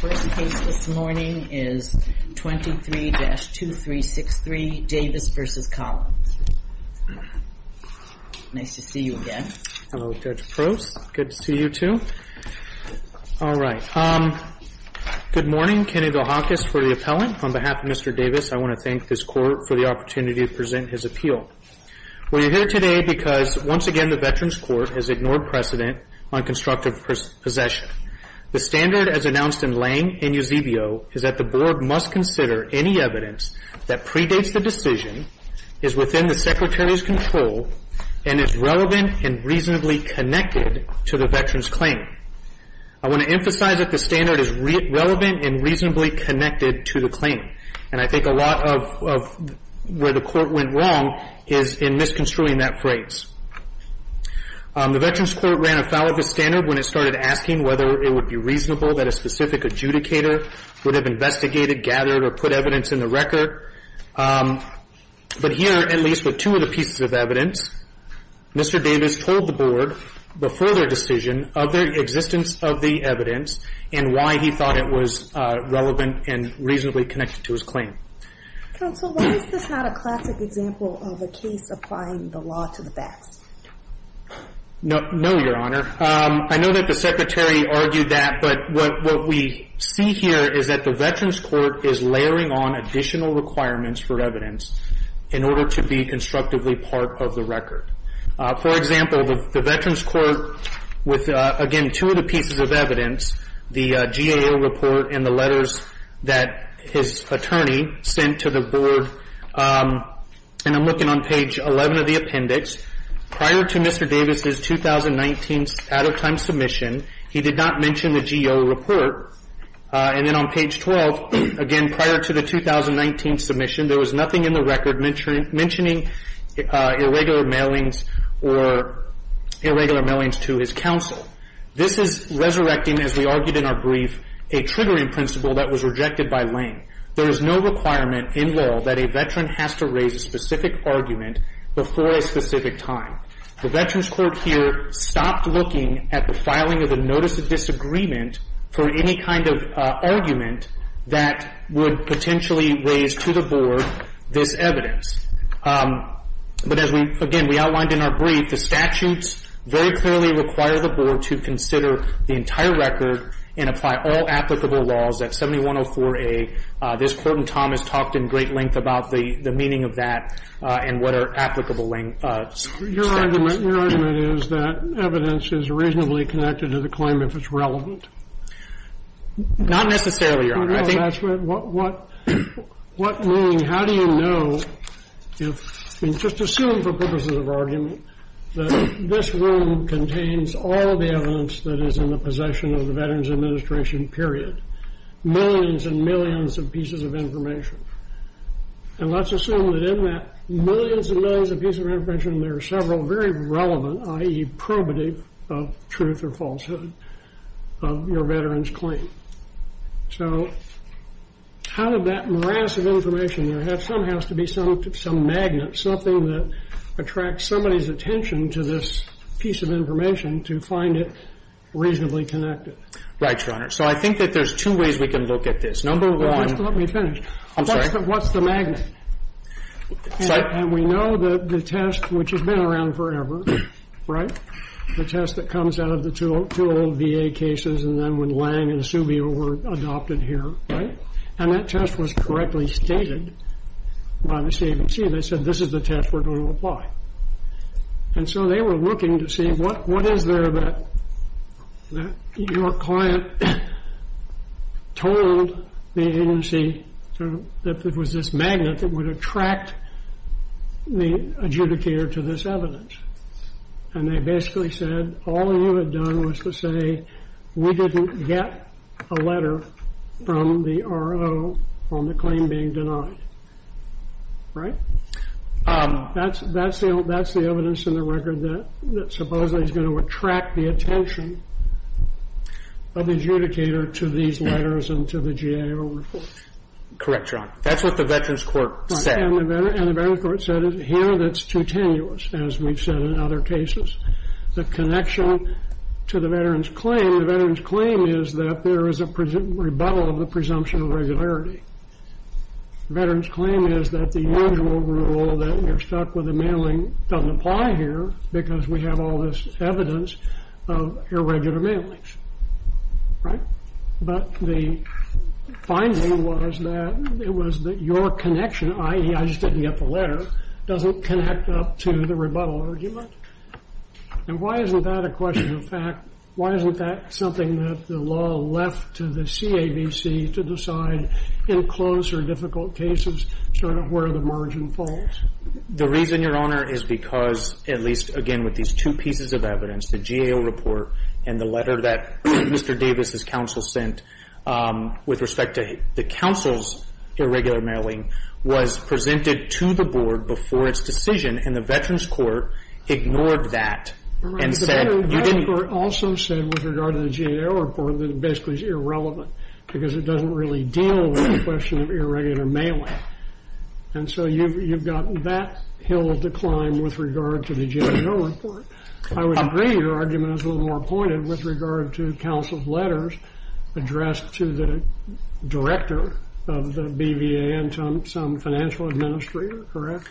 first case this morning is 23-2363 Davis v. Collins. Nice to see you again. Hello, Judge Prost. Good to see you too. All right. Good morning. Kenny Villahocas for the appellant. On behalf of Mr. Davis, I want to thank this court for the opportunity to present his appeal. We're here today because, once again, the Veterans Court has ignored precedent on constructive possession. The standard, as announced in Lange and Eusebio, is that the board must consider any evidence that predates the decision, is within the Secretary's control, and is relevant and reasonably connected to the veteran's claim. I want to emphasize that the standard is relevant and reasonably connected to the claim. And I think a lot of where the court went wrong is in misconstruing that phrase. The Veterans Court ran afoul of the standard when it started asking whether it would be reasonable that a specific adjudicator would have investigated, gathered, or put evidence in the record. But here, at least with two of the pieces of evidence, Mr. Davis told the board, before their decision, of the existence of the evidence and why he thought it was relevant and reasonably connected to his claim. Counsel, why is this not a classic example of a case applying the law to the best? No, Your Honor. I know that the Secretary argued that, but what we see here is that the Veterans Court is layering on additional requirements for evidence in order to be constructively part of the record. For example, the Veterans Court, with, again, two of the pieces of evidence, the GAO report and the letters that his attorney sent to the board. And I'm looking on page 11 of the appendix. Prior to Mr. Davis' 2019 out-of-time submission, he did not mention the GAO report. And then on page 12, again, prior to the 2019 submission, there was nothing in the record mentioning irregular mailings or irregular mailings to his counsel. This is resurrecting, as we argued in our brief, a triggering principle that was rejected by Lane. There is no requirement in law that a veteran has to raise a specific argument before a specific time. The Veterans Court here stopped looking at the filing of the notice of disagreement for any kind of argument that would potentially raise to the board this evidence. But as we, again, we outlined in our brief, the statutes very clearly require the board to consider the entire record and apply all applicable laws at 7104A. This Court and Tom has talked in great length about the meaning of that and what are applicable laws. Your argument is that evidence is reasonably connected to the claim if it's relevant. Not necessarily, Your Honor. What meaning, how do you know if, just assume for purposes of argument, that this room contains all the evidence that is in the possession of the Veterans Administration, period. Millions and millions of pieces of information. And let's assume that in that millions and millions of pieces of information, there are several very relevant, i.e., probative of truth or falsehood of your veteran's claim. So how did that mass of information, there has to be some magnet, something that attracts somebody's attention to this piece of information to find it reasonably connected? Right, Your Honor. So I think that there's two ways we can look at this. Number one. Just let me finish. I'm sorry. What's the magnet? And we know that the test, which has been around forever, right? The test that comes out of the two old VA cases and then when Lange and Subio were adopted here, right? And that test was correctly stated by the CABC. They said this is the test we're going to apply. And so they were looking to see what is there that your client told the agency that there was this magnet that would attract the adjudicator to this evidence. And they basically said all you had done was to say we didn't get a letter from the RO on the claim being denied. Right? That's the evidence in the record that supposedly is going to attract the attention of the adjudicator to these letters and to the GAO report. Correct, Your Honor. That's what the Veterans Court said. And the Veterans Court said here that's too tenuous, as we've said in other cases. The connection to the veterans' claim, the veterans' claim is that there is a rebuttal of the presumption of regularity. The veterans' claim is that the usual rule that you're stuck with a mailing doesn't apply here because we have all this evidence of irregular mailings. Right? But the finding was that it was that your connection, i.e., I just didn't get the letter, doesn't connect up to the rebuttal argument. And why isn't that a question of fact? Why isn't that something that the law left to the CAVC to decide in close or difficult cases sort of where the margin falls? The reason, Your Honor, is because at least, again, with these two pieces of evidence, the GAO report and the letter that Mr. Davis' counsel sent with respect to the counsel's irregular mailing was presented to the Board before its decision. And the Veterans Court ignored that and said you didn't... Your Honor, the Veterans Court also said with regard to the GAO report that it basically is irrelevant because it doesn't really deal with the question of irregular mailing. And so you've got that hill to climb with regard to the GAO report. I would agree your argument is a little more pointed with regard to counsel's letters addressed to the director of the BVA and some financial administrator, correct?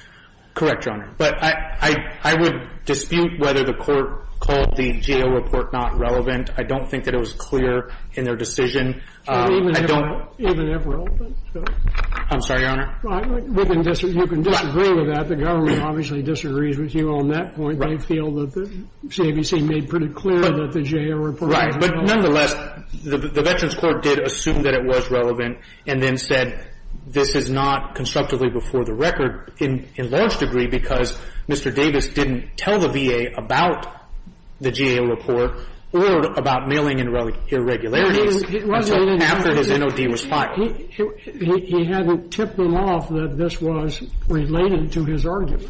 Correct, Your Honor. But I would dispute whether the court called the GAO report not relevant. I don't think that it was clear in their decision. Even if relevant? I'm sorry, Your Honor? You can disagree with that. The government obviously disagrees with you on that point. Right. They feel that the CAVC made pretty clear that the GAO report... Right, but nonetheless, the Veterans Court did assume that it was relevant and then said this is not constructively before the record in large degree because Mr. Davis didn't tell the VA about the GAO report or about mailing irregularities until after his NOD was filed. He hadn't tipped them off that this was related to his argument.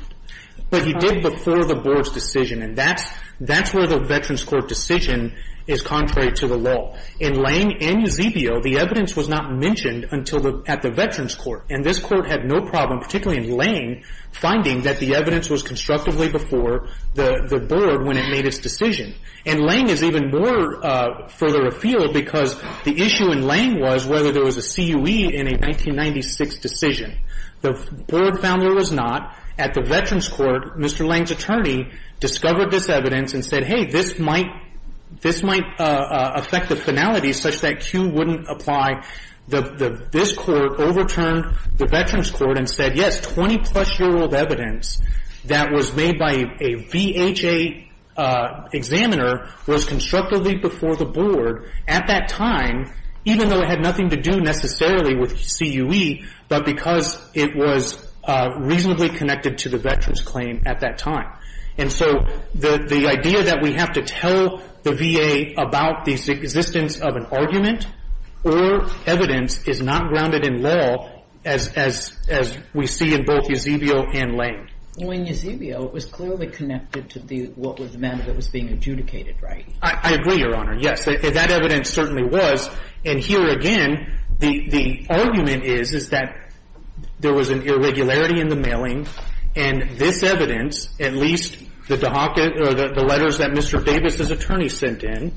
But he did before the Board's decision. And that's where the Veterans Court decision is contrary to the law. In Lange and Eusebio, the evidence was not mentioned at the Veterans Court. And this court had no problem, particularly in Lange, finding that the evidence was constructively before the Board when it made its decision. And Lange is even more further afield because the issue in Lange was whether there was a CUE in a 1996 decision. The Board found there was not. At the Veterans Court, Mr. Lange's attorney discovered this evidence and said, hey, this might affect the finality such that CUE wouldn't apply. This court overturned the Veterans Court and said, yes, 20-plus-year-old evidence that was made by a VHA examiner was constructively before the Board at that time, even though it had nothing to do necessarily with CUE, but because it was reasonably connected to the veterans' claim at that time. And so the idea that we have to tell the VA about the existence of an argument or evidence is not grounded in law as we see in both Eusebio and Lange. Well, in Eusebio, it was clearly connected to what was the matter that was being adjudicated, right? I agree, Your Honor. Yes. That evidence certainly was. And here again, the argument is, is that there was an irregularity in the mailing, and this evidence, at least the letters that Mr. Davis's attorney sent in,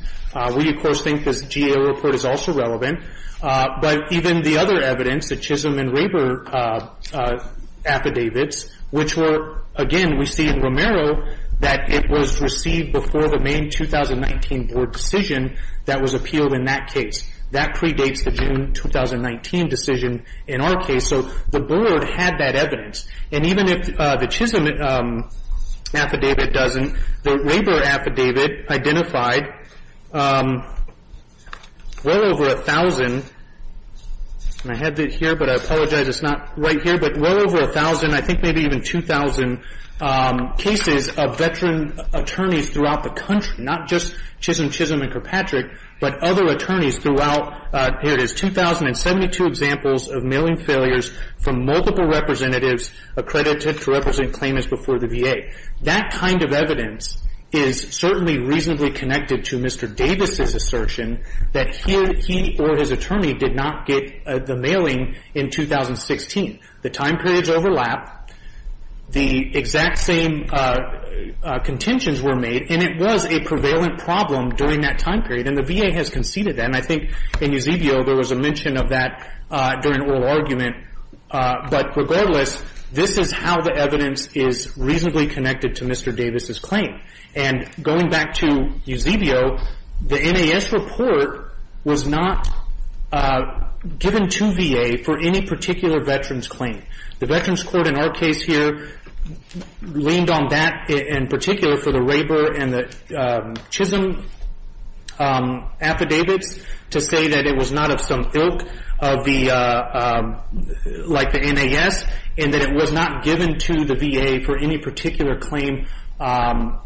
we, of course, think this GAO report is also relevant, but even the other evidence, the Chisholm and Raber affidavits, which were, again, we see in Romero that it was received before the May 2019 Board decision that was that predates the June 2019 decision in our case. So the Board had that evidence. And even if the Chisholm affidavit doesn't, the Raber affidavit identified well over 1,000, and I have it here, but I apologize it's not right here, but well over 1,000, I think maybe even 2,000 cases of veteran attorneys throughout the country, not just Chisholm, Chisholm, and Kirkpatrick, but other attorneys throughout, here it is, 2,072 examples of mailing failures from multiple representatives accredited to represent claimants before the VA. That kind of evidence is certainly reasonably connected to Mr. Davis's assertion that he or his attorney did not get the mailing in 2016. The time periods overlap. The exact same contentions were made, and it was a prevalent problem during that time period, and the VA has conceded that. And I think in Eusebio there was a mention of that during oral argument. But regardless, this is how the evidence is reasonably connected to Mr. Davis's claim. And going back to Eusebio, the NAS report was not given to VA for any particular veteran's claim. The Veterans Court in our case here leaned on that in particular for the Rabor and the Chisholm affidavits to say that it was not of some ilk like the NAS, and that it was not given to the VA for any particular claim or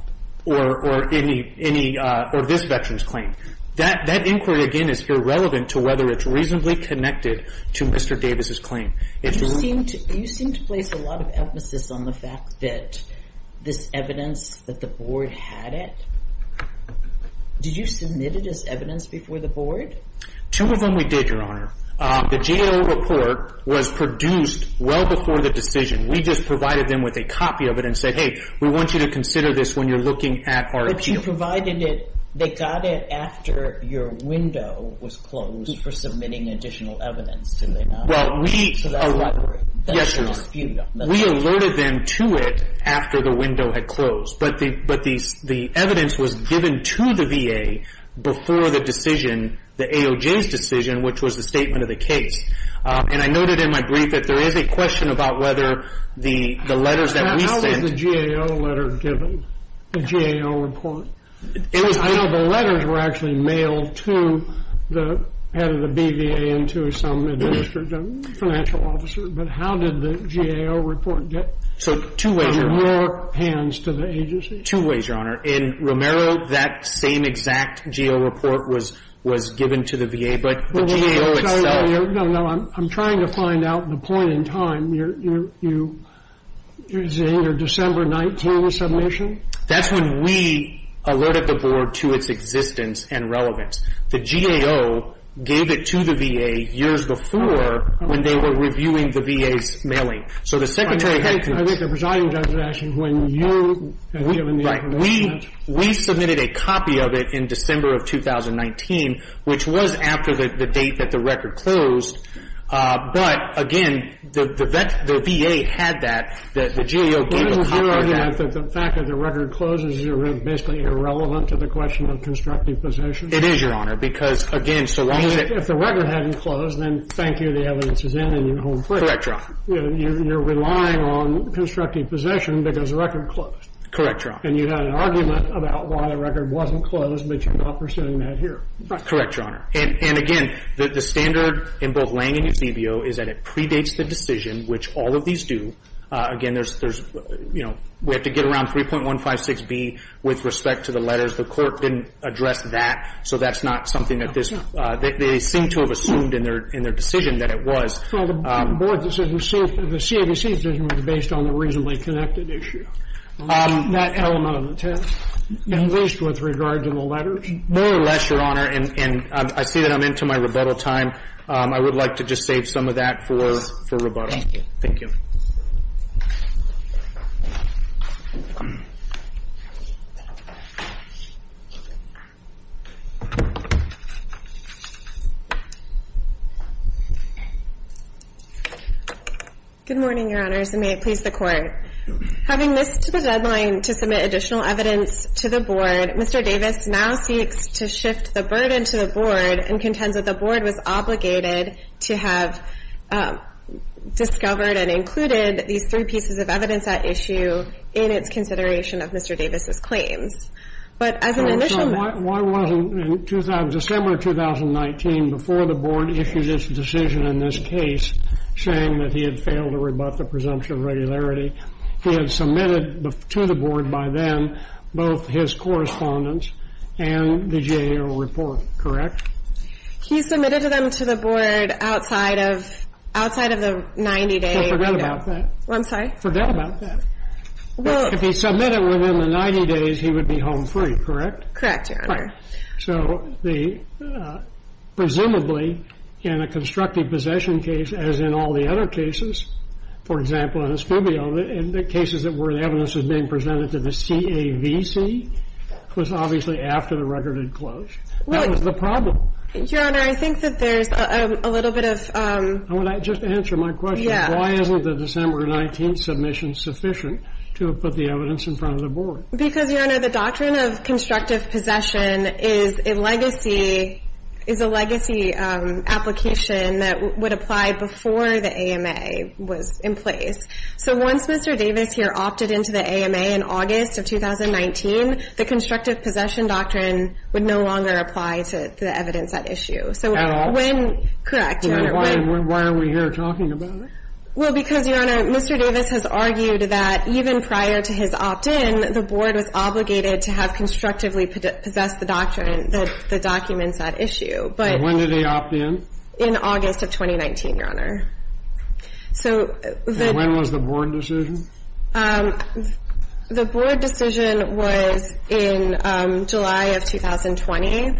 this veteran's claim. That inquiry, again, is irrelevant to whether it's reasonably connected to Mr. Davis's claim. You seem to place a lot of emphasis on the fact that this evidence, that the Board had it. Did you submit it as evidence before the Board? Two of them we did, Your Honor. The JAO report was produced well before the decision. We just provided them with a copy of it and said, hey, we want you to consider this when you're looking at our appeal. But you provided it. They got it after your window was closed for submitting additional evidence, did they not? Well, we alerted them to it after the window had closed. But the evidence was given to the VA before the decision, the AOJ's decision, which was the statement of the case. And I noted in my brief that there is a question about whether the letters that we sent. How was the JAO letter given, the JAO report? I know the letters were actually mailed to the head of the BVA and to some administrative financial officer. But how did the JAO report get from your hands to the agency? Two ways, Your Honor. In Romero, that same exact JAO report was given to the VA. But the JAO itself. No, no. I'm trying to find out the point in time. You're saying your December 19th submission? That's when we alerted the Board to its existence and relevance. The JAO gave it to the VA years before when they were reviewing the VA's mailing. I think the presiding judge was asking when you had given the information. We submitted a copy of it in December of 2019, which was after the date that the record closed. But, again, the VA had that. The JAO gave a copy of that. Isn't your argument that the fact that the record closes is basically irrelevant to the question of constructive possession? It is, Your Honor, because, again, so long as it — If the record hadn't closed, then thank you. The evidence is in and you're home free. Correct, Your Honor. You're relying on constructive possession because the record closed. Correct, Your Honor. And you had an argument about why the record wasn't closed, but you're not pursuing that here. Correct, Your Honor. And, again, the standard in both Lange and Eusebio is that it predates the decision, which all of these do. Again, there's — you know, we have to get around 3.156B with respect to the letters. The Court didn't address that, so that's not something that this — they seem to have assumed in their decision that it was. Well, the board decision was safe. The CAVC decision was based on the reasonably connected issue. That element of intent, at least with regard to the letters. More or less, Your Honor. And I see that I'm into my rebuttal time. I would like to just save some of that for rebuttal. Thank you. Good morning, Your Honors, and may it please the Court. Having missed the deadline to submit additional evidence to the board, Mr. Davis now seeks to shift the burden to the board and contends that the board was obligated to have discovered and included these three pieces of evidence at issue in its consideration of Mr. Davis' claims. But as an initial — So why wasn't, in December of 2019, before the board issued its decision in this case, saying that he had failed to rebut the presumption of regularity, he had submitted to the board both his correspondence and the GAO report, correct? He submitted them to the board outside of — outside of the 90-day window. Well, forget about that. I'm sorry? Forget about that. Well — If he submitted within the 90 days, he would be home free, correct? Correct, Your Honor. Correct. So the — presumably, in a constructive possession case, as in all the other cases, for example, in Escambio, in the cases where the evidence was being presented to the CAVC, it was obviously after the record had closed. That was the problem. Your Honor, I think that there's a little bit of — Just answer my question. Yeah. Why isn't the December 19th submission sufficient to have put the evidence in front of the board? Because, Your Honor, the doctrine of constructive possession is a legacy — that would apply before the AMA was in place. So once Mr. Davis here opted into the AMA in August of 2019, the constructive possession doctrine would no longer apply to the evidence at issue. At all? Correct, Your Honor. Why are we here talking about it? Well, because, Your Honor, Mr. Davis has argued that even prior to his opt-in, the board was obligated to have constructively possessed the doctrine — the documents at issue. But — But when did they opt in? In August of 2019, Your Honor. So the — And when was the board decision? The board decision was in July of 2020.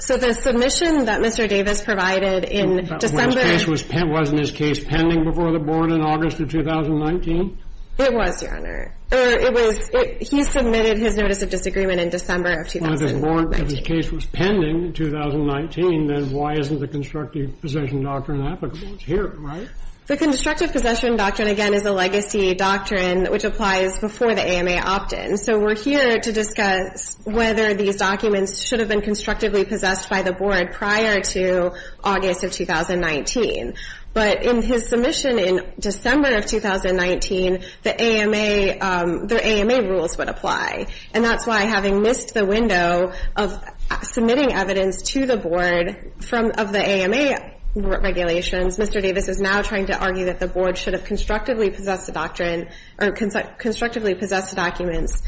So the submission that Mr. Davis provided in December — Wasn't his case pending before the board in August of 2019? It was, Your Honor. It was — he submitted his notice of disagreement in December of 2019. If his case was pending in 2019, then why isn't the constructive possession doctrine applicable? It's here, right? The constructive possession doctrine, again, is a legacy doctrine which applies before the AMA opt-in. So we're here to discuss whether these documents should have been constructively possessed by the board prior to August of 2019. But in his submission in December of 2019, the AMA — the AMA rules would apply. And that's why, having missed the window of submitting evidence to the board from — of the AMA regulations, Mr. Davis is now trying to argue that the board should have constructively possessed the doctrine or constructively possessed the documents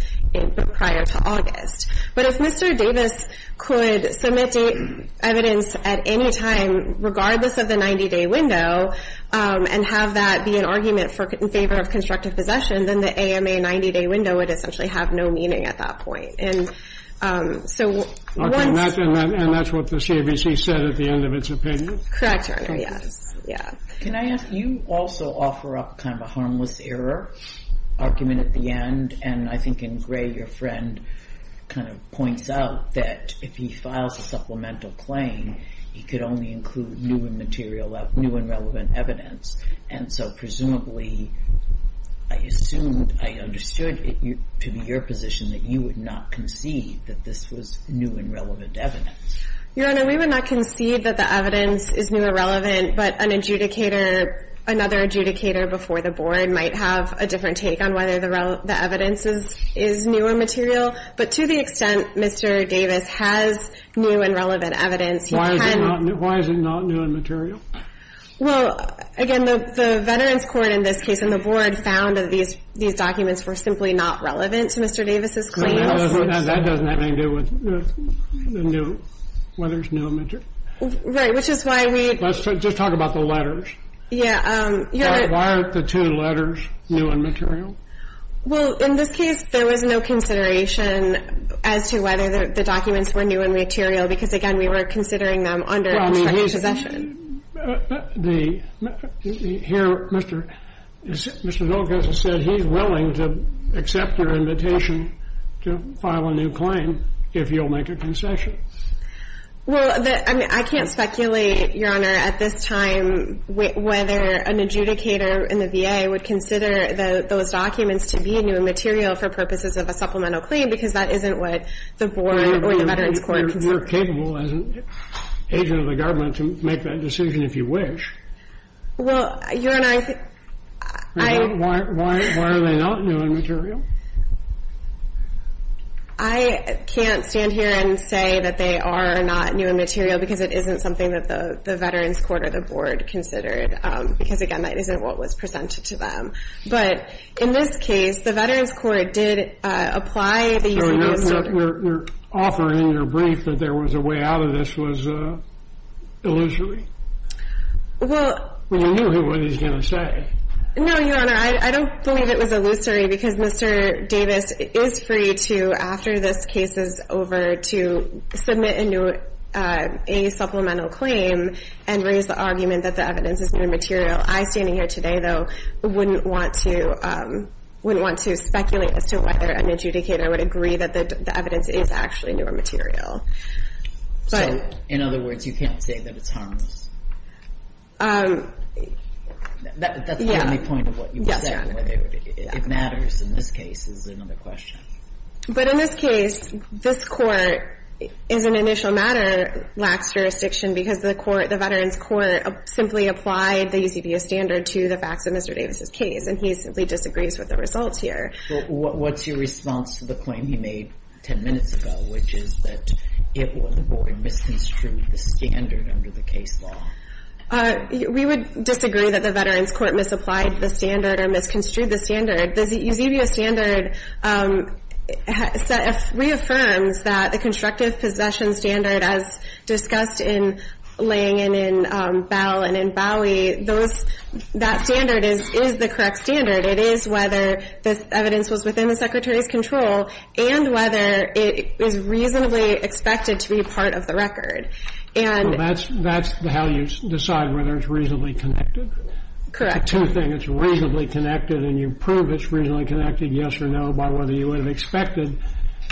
prior to August. But if Mr. Davis could submit evidence at any time, regardless of the 90-day window, and have that be an argument in favor of constructive possession, then the AMA 90-day window would essentially have no meaning at that point. And so once — Okay. And that's what the CABC said at the end of its opinion? Correct, Your Honor. Yes. Yeah. Can I ask — you also offer up kind of a harmless error argument at the end. And I think in gray, your friend kind of points out that if he files a supplemental claim, he could only include new and material — new and relevant evidence. And so presumably, I assumed, I understood, to be your position, that you would not concede that this was new and relevant evidence. Your Honor, we would not concede that the evidence is new or relevant, but an adjudicator — another adjudicator before the board might have a different take on whether the evidence is new or material. But to the extent Mr. Davis has new and relevant evidence, he can — Why is it not new and material? Well, again, the Veterans Court in this case and the board found that these documents were simply not relevant to Mr. Davis' claims. That doesn't have anything to do with whether it's new and material. Right, which is why we — Let's just talk about the letters. Yeah. Why aren't the two letters new and material? Well, in this case, there was no consideration as to whether the documents were new and material because, again, we were considering them under contractual possession. Well, I mean, he's — the — here, Mr. — Mr. Zolkoff has said he's willing to accept your invitation to file a new claim if you'll make a concession. Well, the — I mean, I can't speculate, Your Honor, at this time whether an adjudicator in the VA would consider those documents to be new and material for purposes of a supplemental claim because that isn't what the board or the Veterans Court considered. Well, you're capable as an agent of the government to make that decision if you wish. Well, Your Honor, I — Why are they not new and material? I can't stand here and say that they are not new and material because it isn't something that the Veterans Court or the board considered because, again, that isn't what was presented to them. But in this case, the Veterans Court did apply the — You're offering your brief that there was a way out of this was illusory? Well — Well, you knew what he was going to say. No, Your Honor, I don't believe it was illusory because Mr. Davis is free to, after this case is over, to submit a new — a supplemental claim and raise the argument that the evidence is new and material. I, standing here today, though, wouldn't want to — wouldn't want to speculate as to whether an adjudicator would agree that the evidence is actually new or material. But — So, in other words, you can't say that it's harmless? Yeah. That's the only point of what you said. Yes, Your Honor. Whether it matters in this case is another question. But in this case, this Court, as an initial matter, lacks jurisdiction because the court — the Veterans Court simply applied the UCPS standard to the facts of Mr. Davis's case. And he simply disagrees with the results here. What's your response to the claim he made 10 minutes ago, which is that it or the board misconstrued the standard under the case law? We would disagree that the Veterans Court misapplied the standard or misconstrued the standard. The Eusebio standard reaffirms that the constructive possession standard, as discussed in — laying in in Bell and in Bowie, those — that standard is the correct standard. It is whether the evidence was within the Secretary's control and whether it is reasonably expected to be part of the record. And — Well, that's — that's how you decide whether it's reasonably connected? Correct. It's a two-thing. It's reasonably connected, and you prove it's reasonably connected, yes or no, by whether you would have expected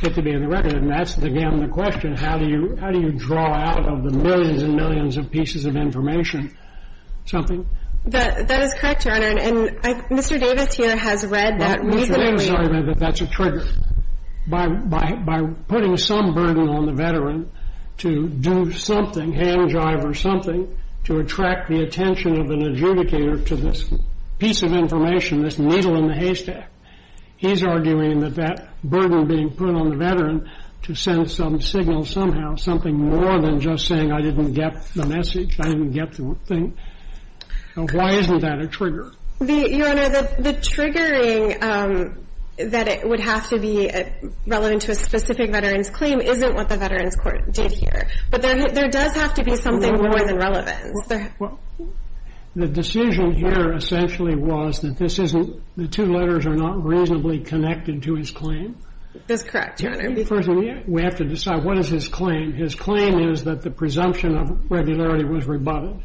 it to be in the record. And that's, again, the question. How do you — how do you draw out of the millions and millions of pieces of information something? That — that is correct, Your Honor. And I — Mr. Davis here has read that reasonably — Mr. Davis has read that that's a trigger. By — by putting some burden on the veteran to do something, hand-jive or something, to attract the attention of an adjudicator to this piece of information, this needle in the haystack, he's arguing that that burden being put on the veteran to send some signal somehow, something more than just saying, I didn't get the message, I didn't get the thing. Now, why isn't that a trigger? The — Your Honor, the — the triggering that it would have to be relevant to a specific veteran's claim isn't what the Veterans Court did here. But there — there does have to be something more than relevance. Well, the decision here essentially was that this isn't — the two letters are not reasonably connected to his claim. That's correct, Your Honor. We have to decide what is his claim. His claim is that the presumption of regularity was rebutted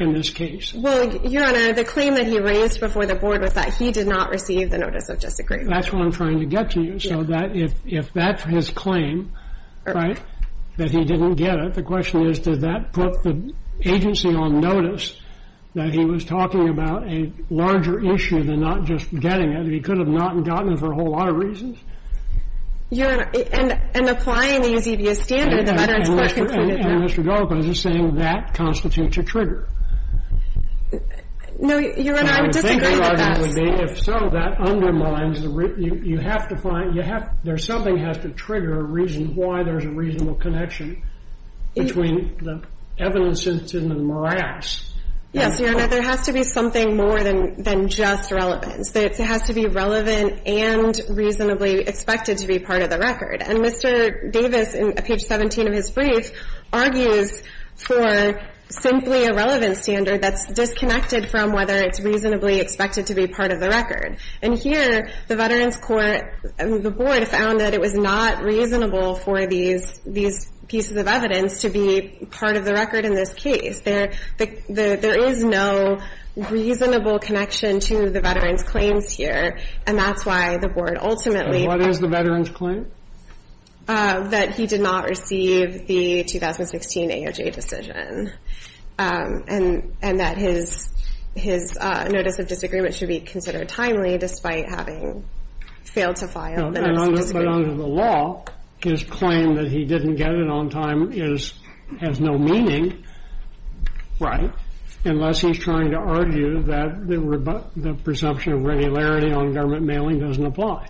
in this case. Well, Your Honor, the claim that he raised before the board was that he did not receive the notice of disagreement. That's what I'm trying to get to you. So that — if — if that's his claim, right, that he didn't get it, the question is, did that put the agency on notice that he was talking about a larger issue than not just getting it? He could have not gotten it for a whole lot of reasons. Your Honor, and — and applying the Eusebius standard, the Veterans Court — And Mr. — and Mr. Goldberg is saying that constitutes a trigger. No, Your Honor, I would disagree with that. I would think it would be. If so, that undermines the — you have to find — you have — there's something has to trigger a reason why there's a reasonable connection between the evidence incident and morass. Yes, Your Honor, there has to be something more than — than just relevance. It has to be relevant and reasonably expected to be part of the record. And Mr. Davis, in page 17 of his brief, argues for simply a relevance standard that's disconnected from whether it's reasonably expected to be part of the record. And here, the Veterans Court — the board found that it was not reasonable for these — these pieces of evidence to be part of the record in this case. There — there is no reasonable connection to the veterans' claims here, and that's why the board ultimately — And what is the veterans' claim? That he did not receive the 2016 AOJ decision, and — and that his — his notice of disagreement should be considered timely, despite having failed to file the notice But under the law, his claim that he didn't get it on time is — has no meaning, right, unless he's trying to argue that the presumption of regularity on government mailing doesn't apply.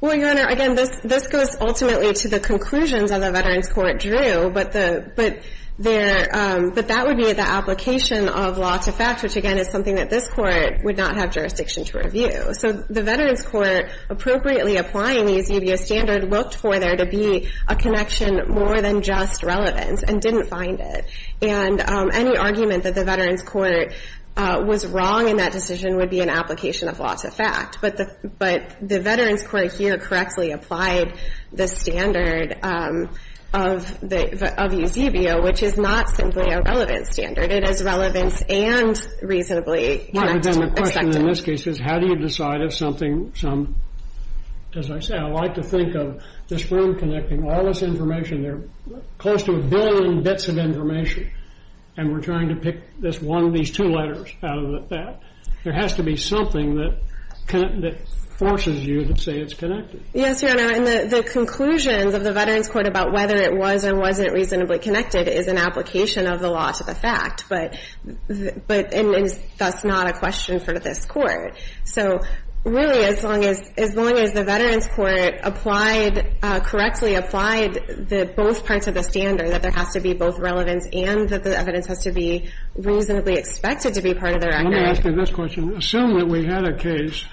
Well, Your Honor, again, this — this goes ultimately to the conclusions of the Veterans Court drew, but the — but their — but that would be the application of law to fact, which, again, is something that this Court would not have jurisdiction to review. So the Veterans Court, appropriately applying the Eusebio standard, looked for there to be a connection more than just relevance, and didn't find it. And any argument that the Veterans Court was wrong in that decision would be an application of law to fact. But the — but the Veterans Court here correctly applied the standard of the — of Eusebio, which is not simply a relevant standard. It is relevant and reasonably expected. And the question in this case is, how do you decide if something — some — as I say, I like to think of this room connecting all this information. There are close to a billion bits of information, and we're trying to pick this one — these two letters out of that. There has to be something that forces you to say it's connected. Yes, Your Honor. And the conclusions of the Veterans Court about whether it was or wasn't reasonably connected is an application of the law to the fact. But — but that's not a question for this Court. So really, as long as — as long as the Veterans Court applied — correctly applied both parts of the standard, that there has to be both relevance and that the evidence has to be reasonably expected to be part of the record — Let me ask you this question. Assume that we had a case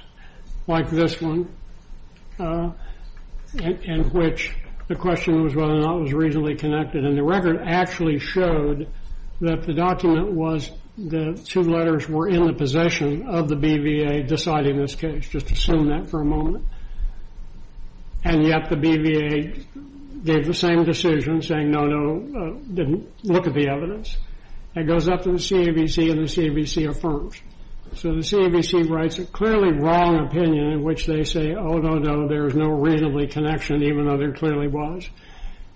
like this one in which the question was whether or not it was reasonably connected. And the record actually showed that the document was — the two letters were in the possession of the BVA deciding this case. Just assume that for a moment. And yet the BVA gave the same decision, saying, no, no, didn't look at the evidence. It goes up to the CAVC, and the CAVC affirms. So the CAVC writes a clearly wrong opinion in which they say, oh, no, no, there is no reasonably connection, even though there clearly was.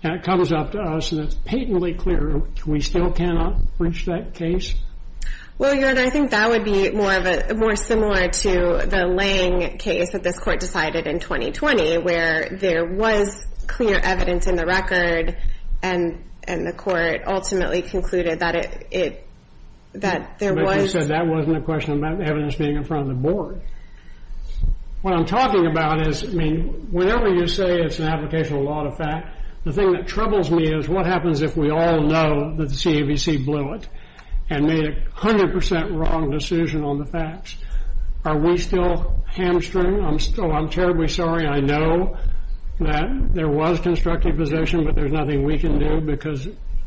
And it comes up to us, and it's patently clear we still cannot reach that case? Well, Your Honor, I think that would be more of a — more similar to the Lange case that this Court decided in 2020, where there was clear evidence in the record, and the Court ultimately concluded that it — that there was — But you said that wasn't a question about the evidence being in front of the board. What I'm talking about is, I mean, whenever you say it's an application of law to fact, the thing that troubles me is what happens if we all know that the CAVC blew it and made a 100 percent wrong decision on the facts? Are we still hamstring? I'm still — I'm terribly sorry. I know that there was constructive position, but there's nothing we can do, because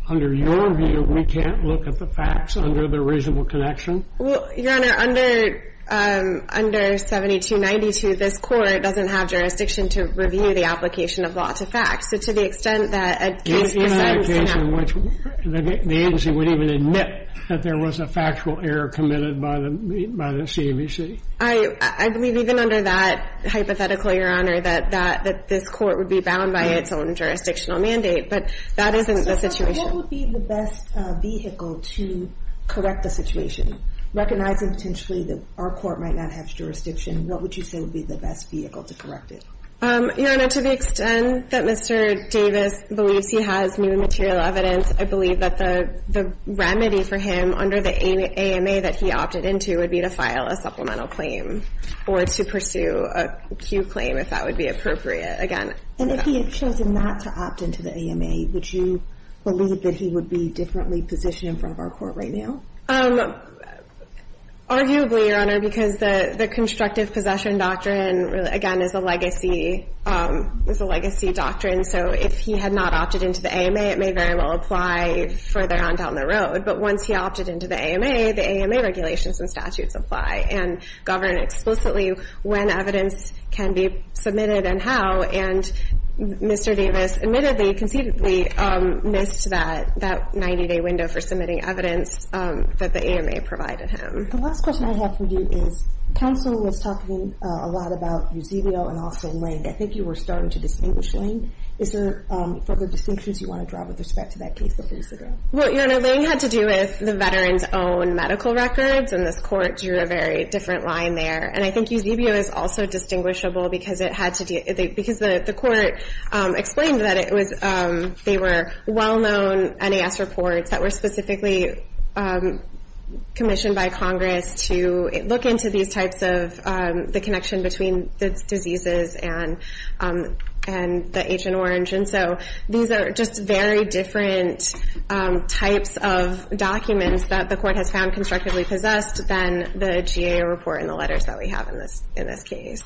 under your view, we can't look at the facts under the reasonable connection? Well, Your Honor, under — under 7292, this Court doesn't have jurisdiction to review the application of law to fact. So to the extent that a case — Do you have a case in which the agency would even admit that there was a factual error committed by the CAVC? I believe even under that hypothetical, Your Honor, that this Court would be bound by its own jurisdictional mandate. But that isn't the situation. And what would be the best vehicle to correct the situation? Recognizing potentially that our Court might not have jurisdiction, what would you say would be the best vehicle to correct it? Your Honor, to the extent that Mr. Davis believes he has new material evidence, I believe that the remedy for him under the AMA that he opted into would be to file a supplemental claim or to pursue a Q claim, if that would be appropriate. And if he had chosen not to opt into the AMA, would you believe that he would be differently positioned in front of our Court right now? Arguably, Your Honor, because the constructive possession doctrine, again, is a legacy — is a legacy doctrine. So if he had not opted into the AMA, it may very well apply further on down the road. But once he opted into the AMA, the AMA regulations and statutes apply and govern explicitly when evidence can be submitted and how. And Mr. Davis admittedly, conceitedly, missed that 90-day window for submitting evidence that the AMA provided him. The last question I have for you is, counsel was talking a lot about Eusebio and also Lange. I think you were starting to distinguish Lange. Is there further distinctions you want to draw with respect to that case before you sit down? Well, Your Honor, Lange had to do with the veteran's own medical records. And this Court drew a very different line there. And I think Eusebio is also distinguishable because it had to do — because the Court explained that it was — they were well-known NAS reports that were specifically commissioned by Congress to look into these types of — the connection between the diseases and the Agent Orange. And so these are just very different types of documents that the Court has found constructively possessed than the GAO report and the letters that we have in this case.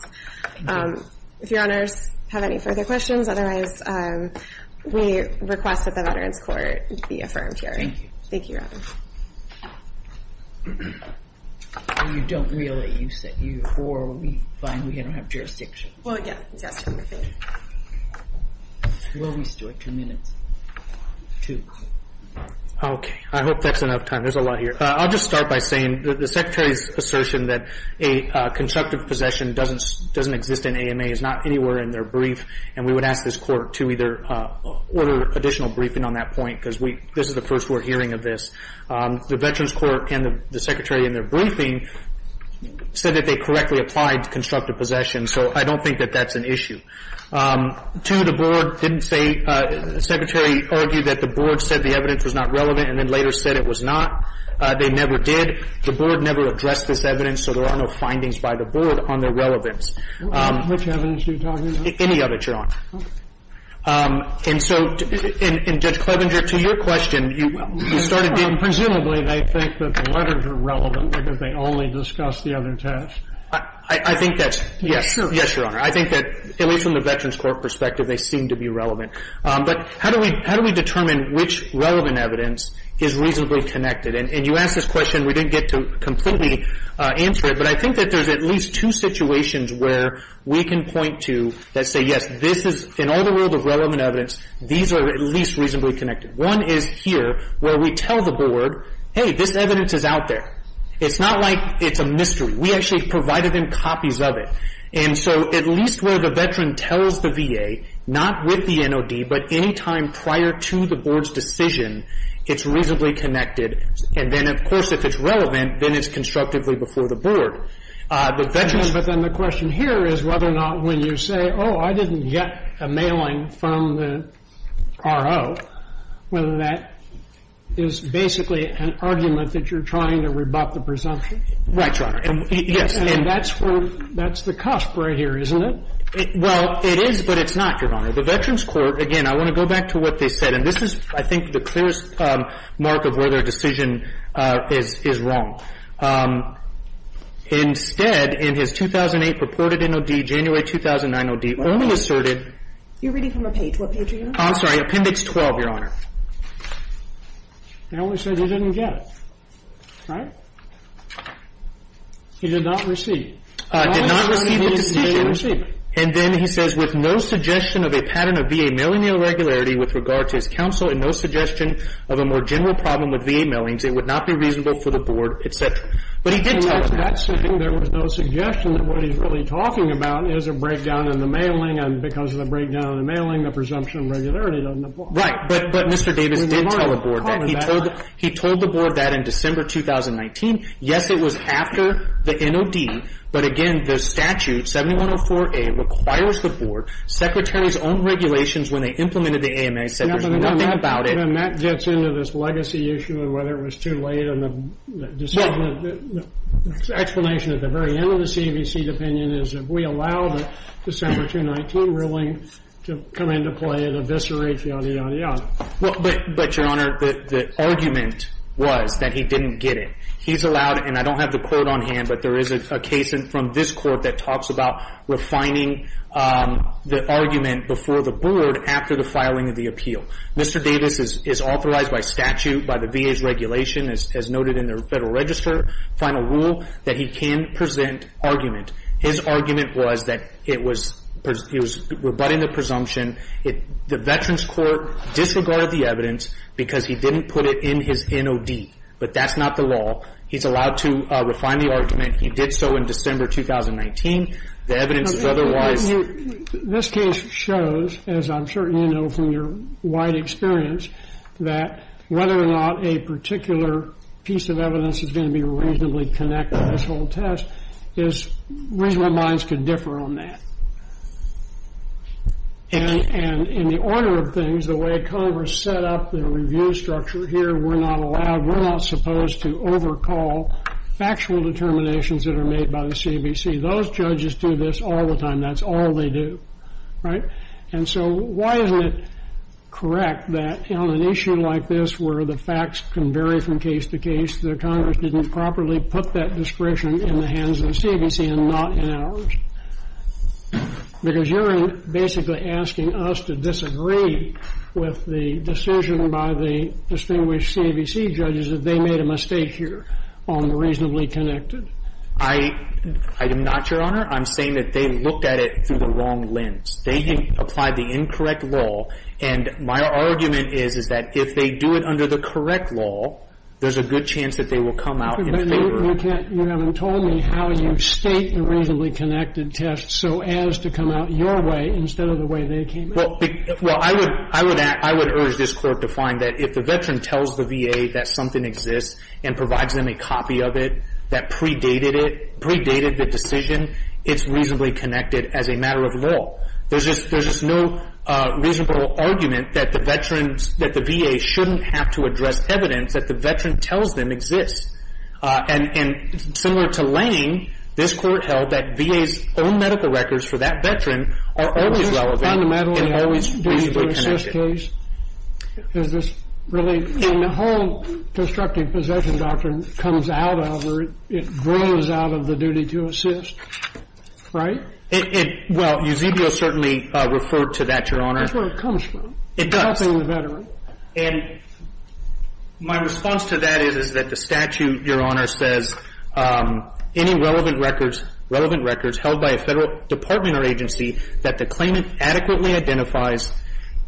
Thank you. If Your Honors have any further questions, otherwise we request that the Veterans Court be affirmed here. Thank you. Thank you, Your Honor. You don't really — you said you — or we find we don't have jurisdiction. Well, yeah. Will we, Stuart? Two minutes. Two. Okay. I hope that's enough time. There's a lot here. I'll just start by saying that the Secretary's assertion that a constructive possession doesn't exist in AMA is not anywhere in their brief. And we would ask this Court to either order additional briefing on that point because this is the first we're hearing of this. The Veterans Court and the Secretary in their briefing said that they correctly applied constructive possession. So I don't think that that's an issue. Two, the Board didn't say — the Secretary argued that the Board said the evidence was not relevant and then later said it was not. They never did. The Board never addressed this evidence, so there are no findings by the Board on their relevance. Which evidence are you talking about? Any of it, Your Honor. And so — and Judge Clevenger, to your question, you started getting — Presumably they think that the letters are relevant because they only discussed the other test. I think that's — yes. Yes, Your Honor. I think that, at least from the Veterans Court perspective, they seem to be relevant. But how do we determine which relevant evidence is reasonably connected? And you asked this question. We didn't get to completely answer it, but I think that there's at least two situations where we can point to that say, yes, this is — in all the world of relevant evidence, these are at least reasonably connected. One is here where we tell the Board, hey, this evidence is out there. It's not like it's a mystery. We actually provided them copies of it. And so at least where the veteran tells the VA, not with the NOD, but any time prior to the Board's decision, it's reasonably connected. And then, of course, if it's relevant, then it's constructively before the Board. The veteran — But then the question here is whether or not when you say, oh, I didn't get a mailing from the RO, whether that is basically an argument that you're trying to rebut the presumption. Right, Your Honor. Yes. And that's where — that's the cusp right here, isn't it? Well, it is, but it's not, Your Honor. The Veterans Court — again, I want to go back to what they said. And this is, I think, the clearest mark of whether a decision is wrong. Instead, in his 2008 purported NOD, January 2009 OD, only asserted — You're reading from a page. What page are you on? I'm sorry. Appendix 12, Your Honor. They only said they didn't get it. Right? He did not receive. Did not receive the decision. And then he says, With no suggestion of a pattern of VA mailing irregularity with regard to his counsel and no suggestion of a more general problem with VA mailings, it would not be reasonable for the Board, etc. But he did tell the Board. In that sitting, there was no suggestion that what he's really talking about is a breakdown in the mailing, and because of the breakdown in the mailing, the presumption of irregularity doesn't apply. Right. But Mr. Davis did tell the Board that. He told the Board that in December 2019. Yes, it was after the NOD. But again, the statute, 7104A, requires the Board. Secretary's own regulations when they implemented the AMA said there's nothing about it. And that gets into this legacy issue of whether it was too late on the decision. The explanation at the very end of the CBC opinion is if we allow the December 2019 ruling to come into play, it eviscerates, yada, yada, yada. But, Your Honor, the argument was that he didn't get it. He's allowed it, and I don't have the quote on hand, but there is a case from this Court that talks about refining the argument before the Board after the filing of the appeal. Mr. Davis is authorized by statute, by the VA's regulation, as noted in the Federal Register Final Rule, that he can present argument. His argument was that it was rebutting the presumption. The Veterans Court disregarded the evidence because he didn't put it in his NOD. But that's not the law. He's allowed to refine the argument. He did so in December 2019. The evidence is otherwise. This case shows, as I'm sure you know from your wide experience, that whether or not a particular piece of evidence is going to be reasonably connected to this whole test, is reasonable minds could differ on that. And in the order of things, the way Congress set up the review structure here, we're not allowed, we're not supposed to overhaul factual determinations that are made by the CBC. Those judges do this all the time. That's all they do. Right? And so why isn't it correct that on an issue like this where the facts can vary from case to case, that Congress didn't properly put that discretion in the hands of the CBC and not in ours? Because you're basically asking us to disagree with the decision by the distinguished CBC judges that they made a mistake here on the reasonably connected. I am not, Your Honor. I'm saying that they looked at it through the wrong lens. They didn't apply the incorrect law. And my argument is, is that if they do it under the correct law, there's a good chance that they will come out in favor. But you can't, you haven't told me how you state the reasonably connected test so as to come out your way instead of the way they came out. Well, I would urge this Court to find that if the veteran tells the VA that something exists and provides them a copy of it that predated it, predated the decision, it's reasonably connected as a matter of law. There's just no reasonable argument that the veterans, that the VA shouldn't have to address evidence that the veteran tells them exists. And similar to Lane, this Court held that VA's own medical records for that veteran are always relevant and always reasonably connected. Is this fundamentally a duty-to-assist case? Is this really, and the whole destructive possession doctrine comes out of or it grows out of the duty-to-assist, right? Well, Eusebio certainly referred to that, Your Honor. That's where it comes from. It does. Helping the veteran. And my response to that is, is that the statute, Your Honor, says any relevant records, relevant records held by a Federal department or agency that the claimant adequately identifies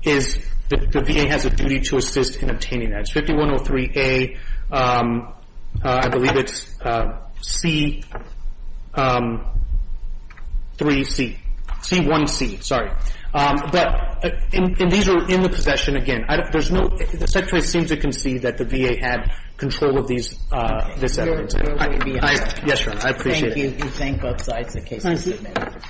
is the VA has a duty-to-assist in obtaining that. And that's 5103A. I believe it's C3C. C1C, sorry. But these are in the possession again. There's no – the Secretary seems to concede that the VA had control of these, this evidence. Your Honor. Yes, Your Honor. I appreciate it. Thank you. We thank both sides. The case is submitted.